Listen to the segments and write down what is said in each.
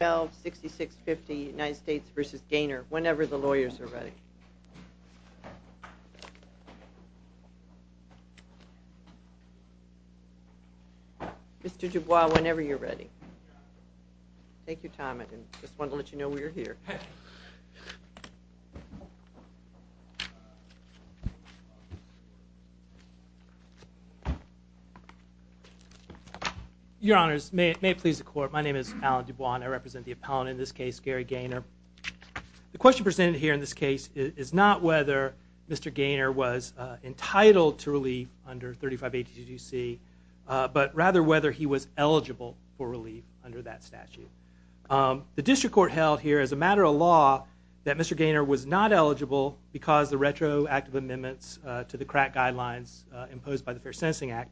6650 United States v. Gaynor, whenever the lawyers are ready. Mr. Dubois, whenever you're ready. Thank you, Tom. I just wanted to let you know we're here. Your Honors, may it please the Court, my name is Alan Dubois and I represent the appellant in this case, Gary Gaynor. The question presented here in this case is not whether Mr. Gaynor was entitled to relief under 3582C, but rather whether he was eligible for relief under that statute. The District Court held here as a matter of law that Mr. Gaynor was not eligible because the retroactive amendments to the crack guidelines imposed by the Fair Sentencing Act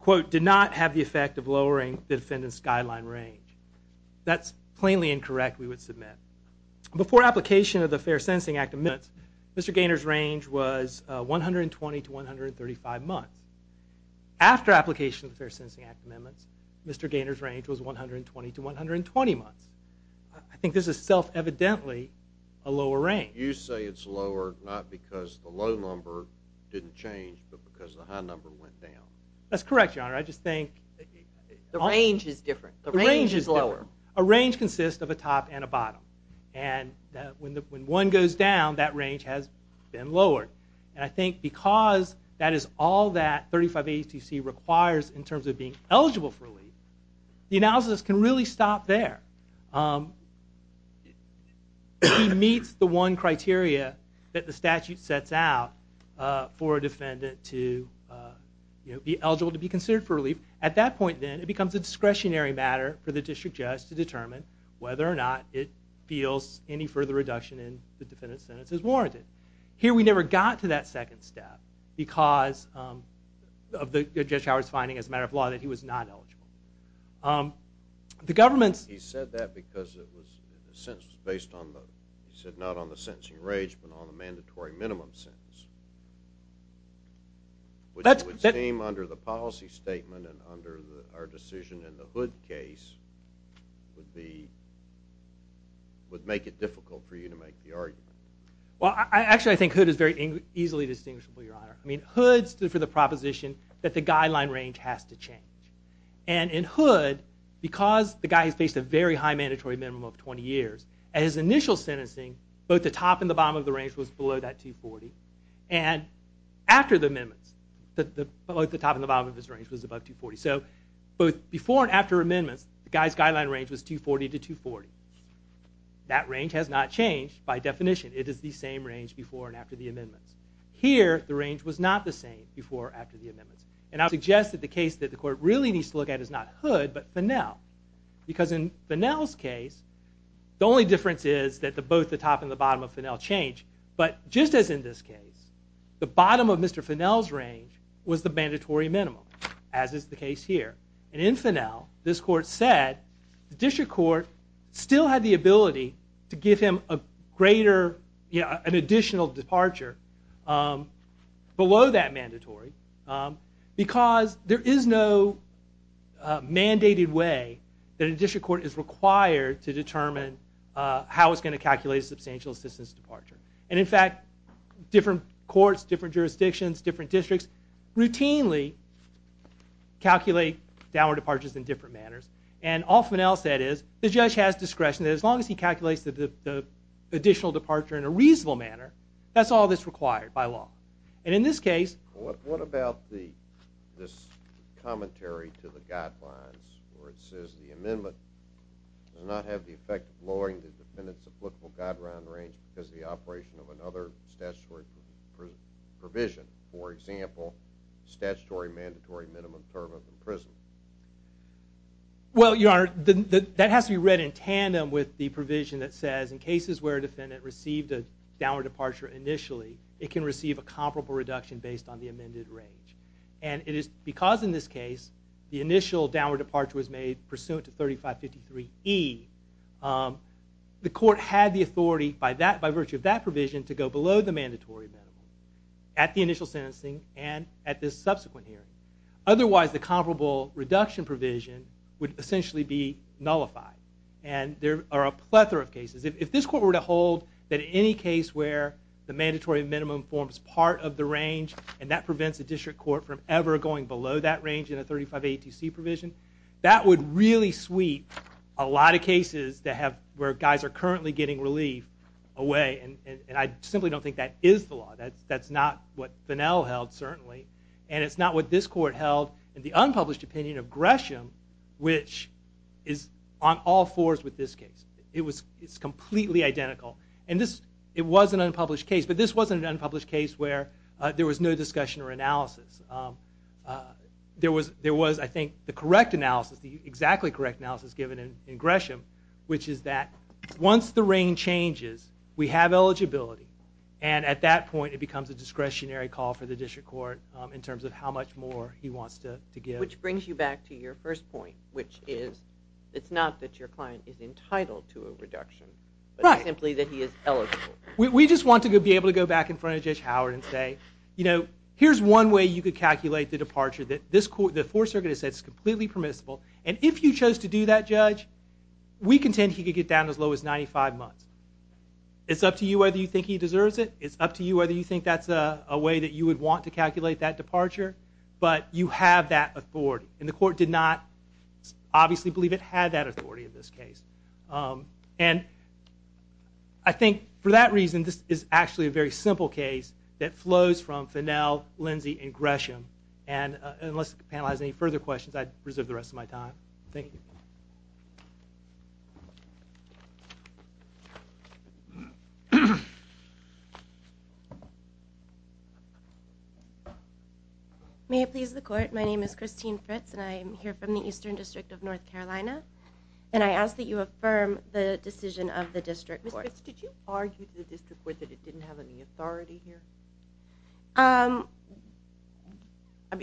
quote, did not have the effect of lowering the defendant's guideline range. That's plainly incorrect, we would submit. Before application of the Fair Sentencing Act amendments, Mr. Gaynor's range was 120 to 135 months. After application of the Fair Sentencing Act amendments, Mr. Gaynor's range was 120 to 120 months. I think this is self-evidently a lower range. You say it's lower not because the low number didn't change, but because the high number went down. That's correct, Your Honor. I just think... The range is different. The range is lower. The range is different. A range consists of a top and a bottom. And when one goes down, that range has been lowered. And I think because that is all that 3580-C requires in terms of being eligible for relief, the analysis can really stop there. It meets the one criteria that the statute sets out for a defendant to be eligible to be considered for relief. At that point then, it becomes a discretionary matter for the district judge to determine whether or not it feels any further reduction in the defendant's sentence is warranted. Here we never got to that second step because of Judge Howard's finding as a matter of law that he was not eligible. He said that because the sentence was based not on the sentencing range but on the mandatory minimum sentence. Which would seem under the policy statement and under our decision in the Hood case would make it difficult for you to make the argument. Well, actually I think Hood is very easily distinguishable, Your Honor. I mean, Hood stood for the proposition that the guideline range has to change. And in Hood, because the guy has faced a very high mandatory minimum of 20 years, at his initial sentencing, both the top and the bottom of the range was below that 240. And after the amendments, both the top and the bottom of his range was above 240. So, both before and after amendments, the guy's guideline range was 240 to 240. That range has not changed by definition. It is the same range before and after the amendments. Here, the range was not the same before and after the amendments. And I would suggest that the case that the court really needs to look at is not Hood but Fennell. Because in Fennell's case, the only difference is that both the top and the bottom of Fennell change. But just as in this case, the bottom of Mr. Fennell's range was the mandatory minimum, as is the case here. And in Fennell, this court said, the district court still had the ability to give him an additional departure below that mandatory. Because there is no mandated way that a district court is required to determine how it's going to calculate a substantial assistance departure. And in fact, different courts, different jurisdictions, different districts, routinely calculate downward departures in different manners. And all Fennell said is, the judge has discretion that as long as he calculates the additional departure in a reasonable manner, that's all that's required by law. And in this case... What about this commentary to the guidelines where it says, the amendment does not have the effect of lowering the defendant's applicable guideline range because of the operation of another statutory provision? For example, statutory mandatory minimum term of imprisonment. Well, Your Honor, that has to be read in tandem with the provision that says, in cases where a defendant received a downward departure initially, it can receive a comparable reduction based on the amended range. And it is because in this case, the initial downward departure was made pursuant to 3553E, the court had the authority by virtue of that provision to go below the mandatory minimum. At the initial sentencing and at the subsequent hearing. Otherwise, the comparable reduction provision would essentially be nullified. And there are a plethora of cases. If this court were to hold that any case where the mandatory minimum forms part of the range, and that prevents a district court from ever going below that range in a 35A2C provision, that would really sweep a lot of cases where guys are currently getting relief away. And I simply don't think that is the law. That's not what Finnell held, certainly. And it's not what this court held in the unpublished opinion of Gresham, which is on all fours with this case. It's completely identical. And it was an unpublished case. But this wasn't an unpublished case where there was no discussion or analysis. There was, I think, the correct analysis, the exactly correct analysis given in Gresham, which is that once the range changes, we have eligibility. And at that point, it becomes a discretionary call for the district court in terms of how much more he wants to give. Which brings you back to your first point, which is it's not that your client is entitled to a reduction, but simply that he is eligible. We just want to be able to go back in front of Judge Howard and say, you know, here's one way you could calculate the departure. The Fourth Circuit has said it's completely permissible. And if you chose to do that, Judge, we contend he could get down as low as 95 months. It's up to you whether you think he deserves it. It's up to you whether you think that's a way that you would want to calculate that departure. But you have that authority. And the court did not obviously believe it had that authority in this case. And I think for that reason, this is actually a very simple case that flows from Finnell, Lindsey, and Gresham. And unless the panel has any further questions, I'd reserve the rest of my time. Thank you. May I please the court? My name is Christine Fritz, and I am here from the Eastern District of North Carolina. And I ask that you affirm the decision of the district court. Ms. Fritz, did you argue to the district court that it didn't have any authority here? I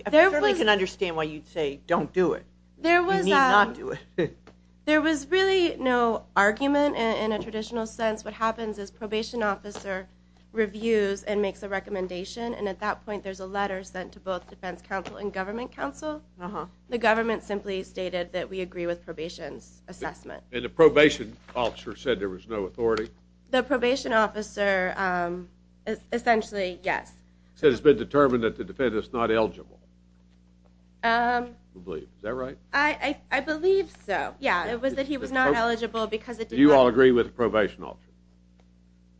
certainly can understand why you'd say don't do it. You need not do it. There was really no argument in a traditional sense. What happens is probation officer reviews and makes a recommendation, and at that point there's a letter sent to both defense counsel and government counsel. The government simply stated that we agree with probation's assessment. And the probation officer said there was no authority? The probation officer essentially, yes. He said it's been determined that the defendant's not eligible. Is that right? I believe so. Yeah, it was that he was not eligible because it did not. Do you all agree with the probation officer?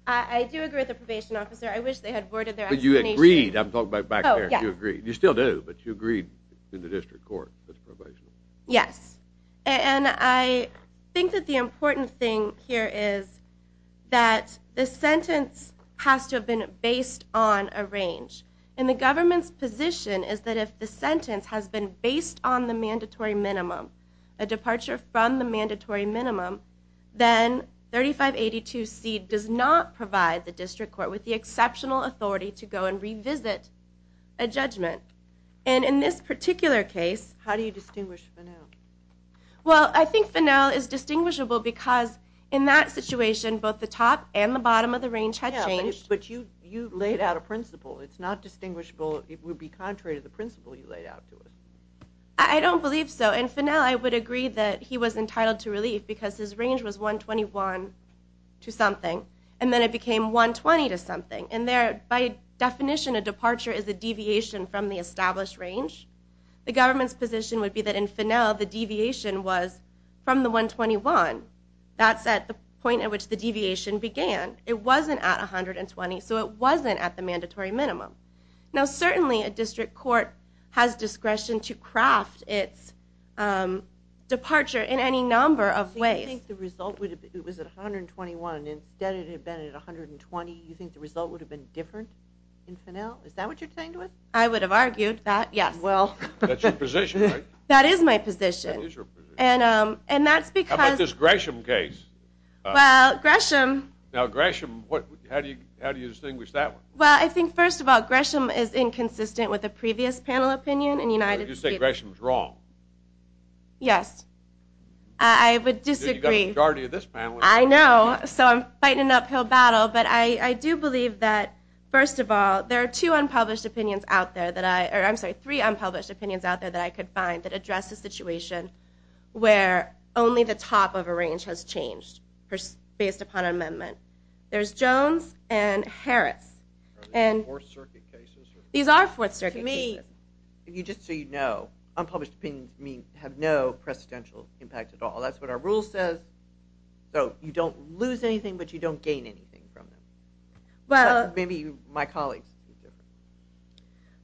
I do agree with the probation officer. I wish they had worded their explanation. But you agreed. I'm talking about back there. You agreed. You still do, but you agreed in the district court with probation. Yes. And I think that the important thing here is that the sentence has to have been based on a range. And the government's position is that if the sentence has been based on the mandatory minimum, a departure from the mandatory minimum, then 3582C does not provide the district court with the exceptional authority to go and revisit a judgment. And in this particular case. How do you distinguish Fennell? Well, I think Fennell is distinguishable because in that situation, both the top and the bottom of the range had changed. Yeah, but you laid out a principle. It's not distinguishable. It would be contrary to the principle you laid out to us. I don't believe so. And Fennell, I would agree that he was entitled to relief because his range was 121 to something. And then it became 120 to something. And there, by definition, a departure is a deviation from the established range. The government's position would be that in Fennell, the deviation was from the 121. That's at the point at which the deviation began. It wasn't at 120, so it wasn't at the mandatory minimum. Now, certainly a district court has discretion to craft its departure in any number of ways. So you think the result would have been, it was at 121. Instead, it had been at 120. You think the result would have been different in Fennell? Is that what you're saying to us? I would have argued that, yes. That's your position, right? That is my position. That is your position. How about this Gresham case? Well, Gresham. Now, Gresham, how do you distinguish that one? Well, I think, first of all, Gresham is inconsistent with the previous panel opinion. You're going to say Gresham's wrong. Yes. I would disagree. You've got a majority of this panel. I know. So I'm fighting an uphill battle. But I do believe that, first of all, there are two unpublished opinions out there that I, or I'm sorry, three unpublished opinions out there that I could find that address the situation where only the top of a range has changed based upon an amendment. There's Jones and Harris. Are these Fourth Circuit cases? These are Fourth Circuit cases. To me, just so you know, unpublished opinions have no precedential impact at all. That's what our rule says. So you don't lose anything, but you don't gain anything from them. Maybe my colleagues.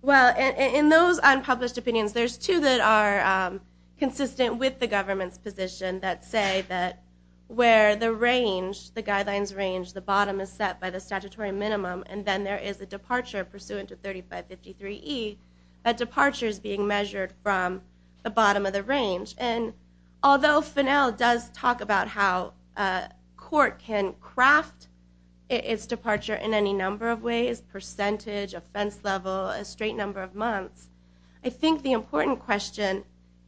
Well, in those unpublished opinions, there's two that are consistent with the government's position that say that where the range, the guidelines range, the bottom is set by the statutory minimum and then there is a departure pursuant to 3553E, and although Finnell does talk about how court can craft its departure in any number of ways, percentage, offense level, a straight number of months, I think the important question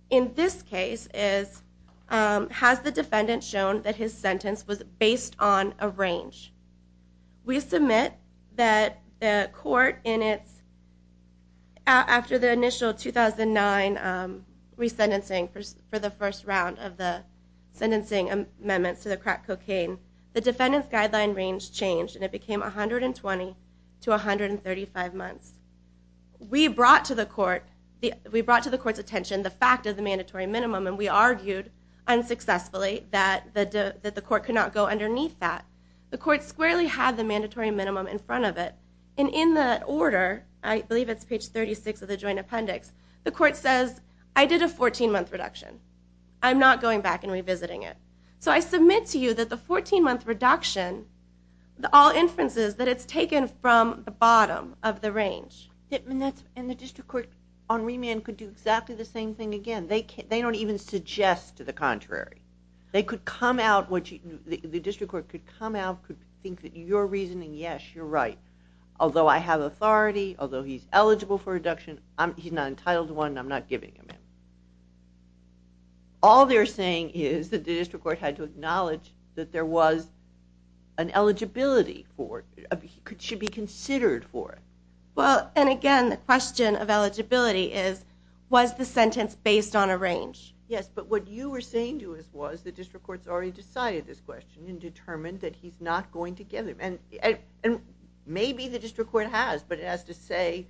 in this case is, has the defendant shown that his sentence was based on a range? We submit that the court in its, after the initial 2009 resentencing for the first round of the sentencing amendments to the crack cocaine, the defendant's guideline range changed and it became 120 to 135 months. We brought to the court's attention the fact of the mandatory minimum and we argued unsuccessfully that the court could not go underneath that. The court squarely had the mandatory minimum in front of it and in the order, I believe it's page 36 of the joint appendix, the court says, I did a 14-month reduction. I'm not going back and revisiting it. So I submit to you that the 14-month reduction, all inference is that it's taken from the bottom of the range. And the district court on remand could do exactly the same thing again. They don't even suggest to the contrary. They could come out, the district court could come out, could think that your reasoning, yes, you're right. Although I have authority, although he's eligible for reduction, he's not entitled to one and I'm not giving him it. All they're saying is that the district court had to acknowledge that there was an eligibility for it, should be considered for it. Well, and again, the question of eligibility is, was the sentence based on a range? Yes, but what you were saying to us was, the district court's already decided this question and determined that he's not going to give it. And maybe the district court has, but it has to say,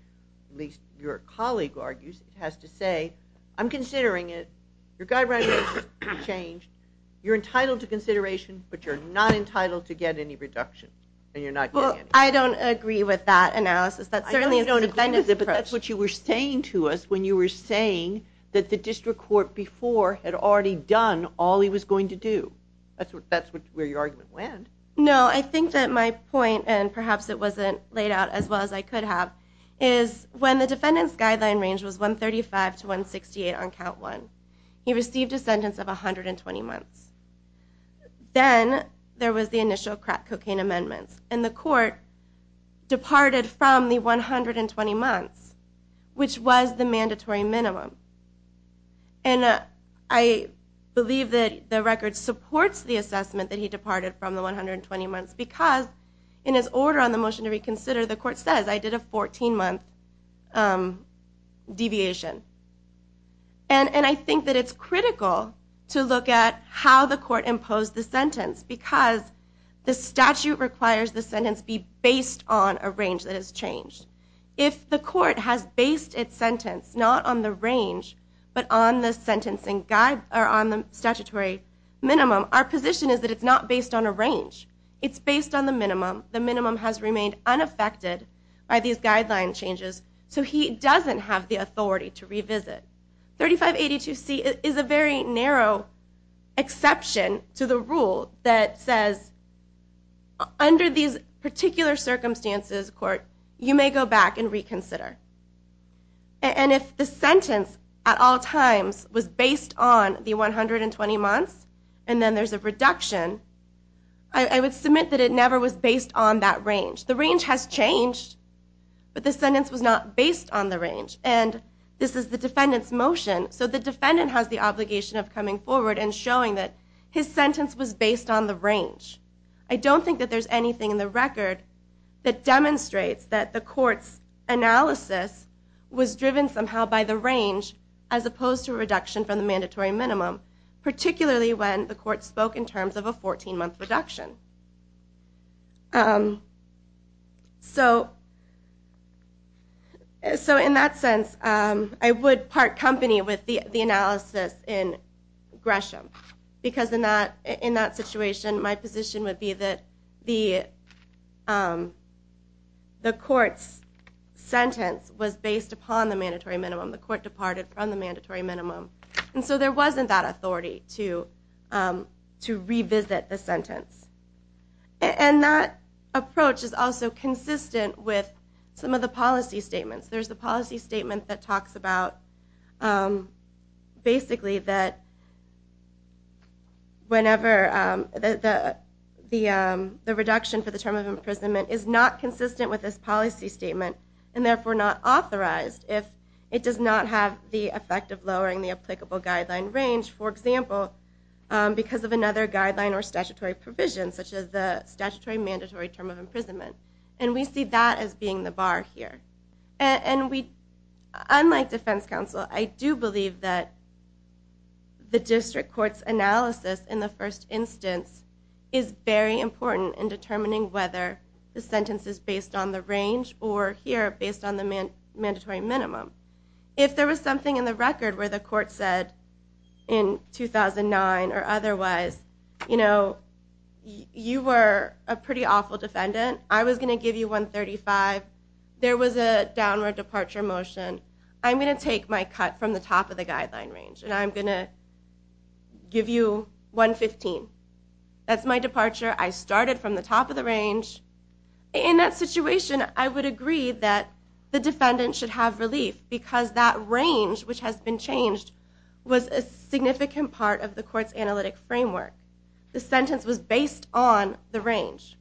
at least your colleague argues, it has to say, I'm considering it. Your guidelines have changed. You're entitled to consideration, but you're not entitled to get any reduction and you're not getting any. Well, I don't agree with that analysis. That's certainly a defendant's approach. But that's what you were saying to us when you were saying that the district court before had already done all he was going to do. That's where your argument went. No, I think that my point, and perhaps it wasn't laid out as well as I could have, is when the defendant's guideline range was 135 to 168 on count one, he received a sentence of 120 months. Then there was the initial crack cocaine amendments, and the court departed from the 120 months, which was the mandatory minimum. And I believe that the record supports the assessment that he departed from the 120 months because in his order on the motion to reconsider, the court says, I did a 14-month deviation. And I think that it's critical to look at how the court imposed the sentence because the statute requires the sentence be based on a range that has changed. If the court has based its sentence not on the range but on the statutory minimum, our position is that it's not based on a range. It's based on the minimum. The minimum has remained unaffected by these guideline changes, so he doesn't have the authority to revisit. 3582C is a very narrow exception to the rule that says, under these particular circumstances, court, you may go back and reconsider. And if the sentence at all times was based on the 120 months, and then there's a reduction, I would submit that it never was based on that range. The range has changed, but the sentence was not based on the range. And this is the defendant's motion, so the defendant has the obligation of coming forward and showing that his sentence was based on the range. I don't think that there's anything in the record that demonstrates that the court's analysis was driven somehow by the range as opposed to a reduction from the mandatory minimum, particularly when the court spoke in terms of a 14-month reduction. So in that sense, I would part company with the analysis in Gresham because in that situation, my position would be that the court's sentence was based upon the mandatory minimum. The court departed from the mandatory minimum. And so there wasn't that authority to revisit the sentence. And that approach is also consistent with some of the policy statements. There's a policy statement that talks about, basically, that the reduction for the term of imprisonment is not consistent with this policy statement and therefore not authorized if it does not have the effect of lowering the applicable guideline range, for example, because of another guideline or statutory provision, such as the statutory mandatory term of imprisonment. And we see that as being the bar here. And unlike defense counsel, I do believe that the district court's analysis in the first instance is very important in determining whether the sentence is based on the range or here based on the mandatory minimum. If there was something in the record where the court said in 2009 or otherwise, you were a pretty awful defendant. I was going to give you 135. There was a downward departure motion. I'm going to take my cut from the top of the guideline range, and I'm going to give you 115. That's my departure. I started from the top of the range. In that situation, I would agree that the defendant should have relief because that range, which has been changed, was a significant part of the court's analytic framework. The sentence was based on the range.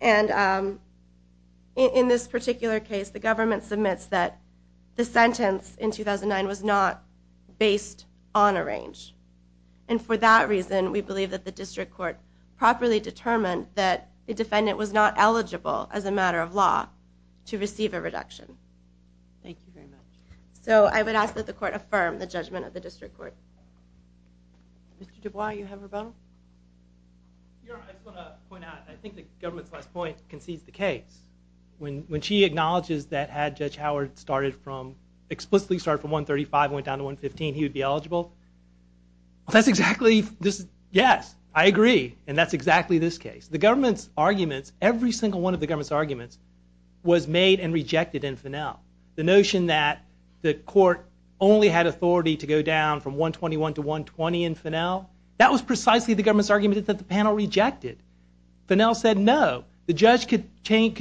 And in this particular case, the government submits that the sentence in 2009 was not based on a range. And for that reason, we believe that the district court properly determined that the defendant was not eligible as a matter of law to receive a reduction. Thank you very much. So I would ask that the court affirm the judgment of the district court. Mr. Dubois, you have a comment? I just want to point out, I think the government's last point concedes the case. When she acknowledges that had Judge Howard explicitly started from 135 and went down to 115, he would be eligible. Yes, I agree. And that's exactly this case. The government's arguments, every single one of the government's arguments, was made and rejected in Finnell. The notion that the court only had authority to go down from 121 to 120 in Finnell, that was precisely the government's argument that the panel rejected. Finnell said, no, the judge could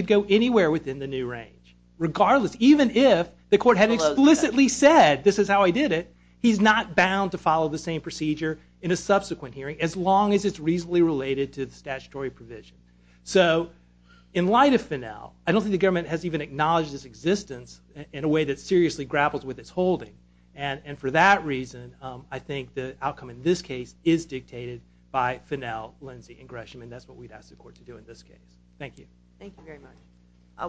go anywhere within the new range, regardless. Even if the court had explicitly said, this is how I did it, he's not bound to follow the same procedure in a subsequent hearing, as long as it's reasonably related to the statutory provision. So in light of Finnell, I don't think the government has even acknowledged its existence in a way that seriously grapples with its holding. And for that reason, I think the outcome in this case is dictated by Finnell, Lindsay, and Gresham. And that's what we'd ask the court to do in this case. Thank you. Thank you very much.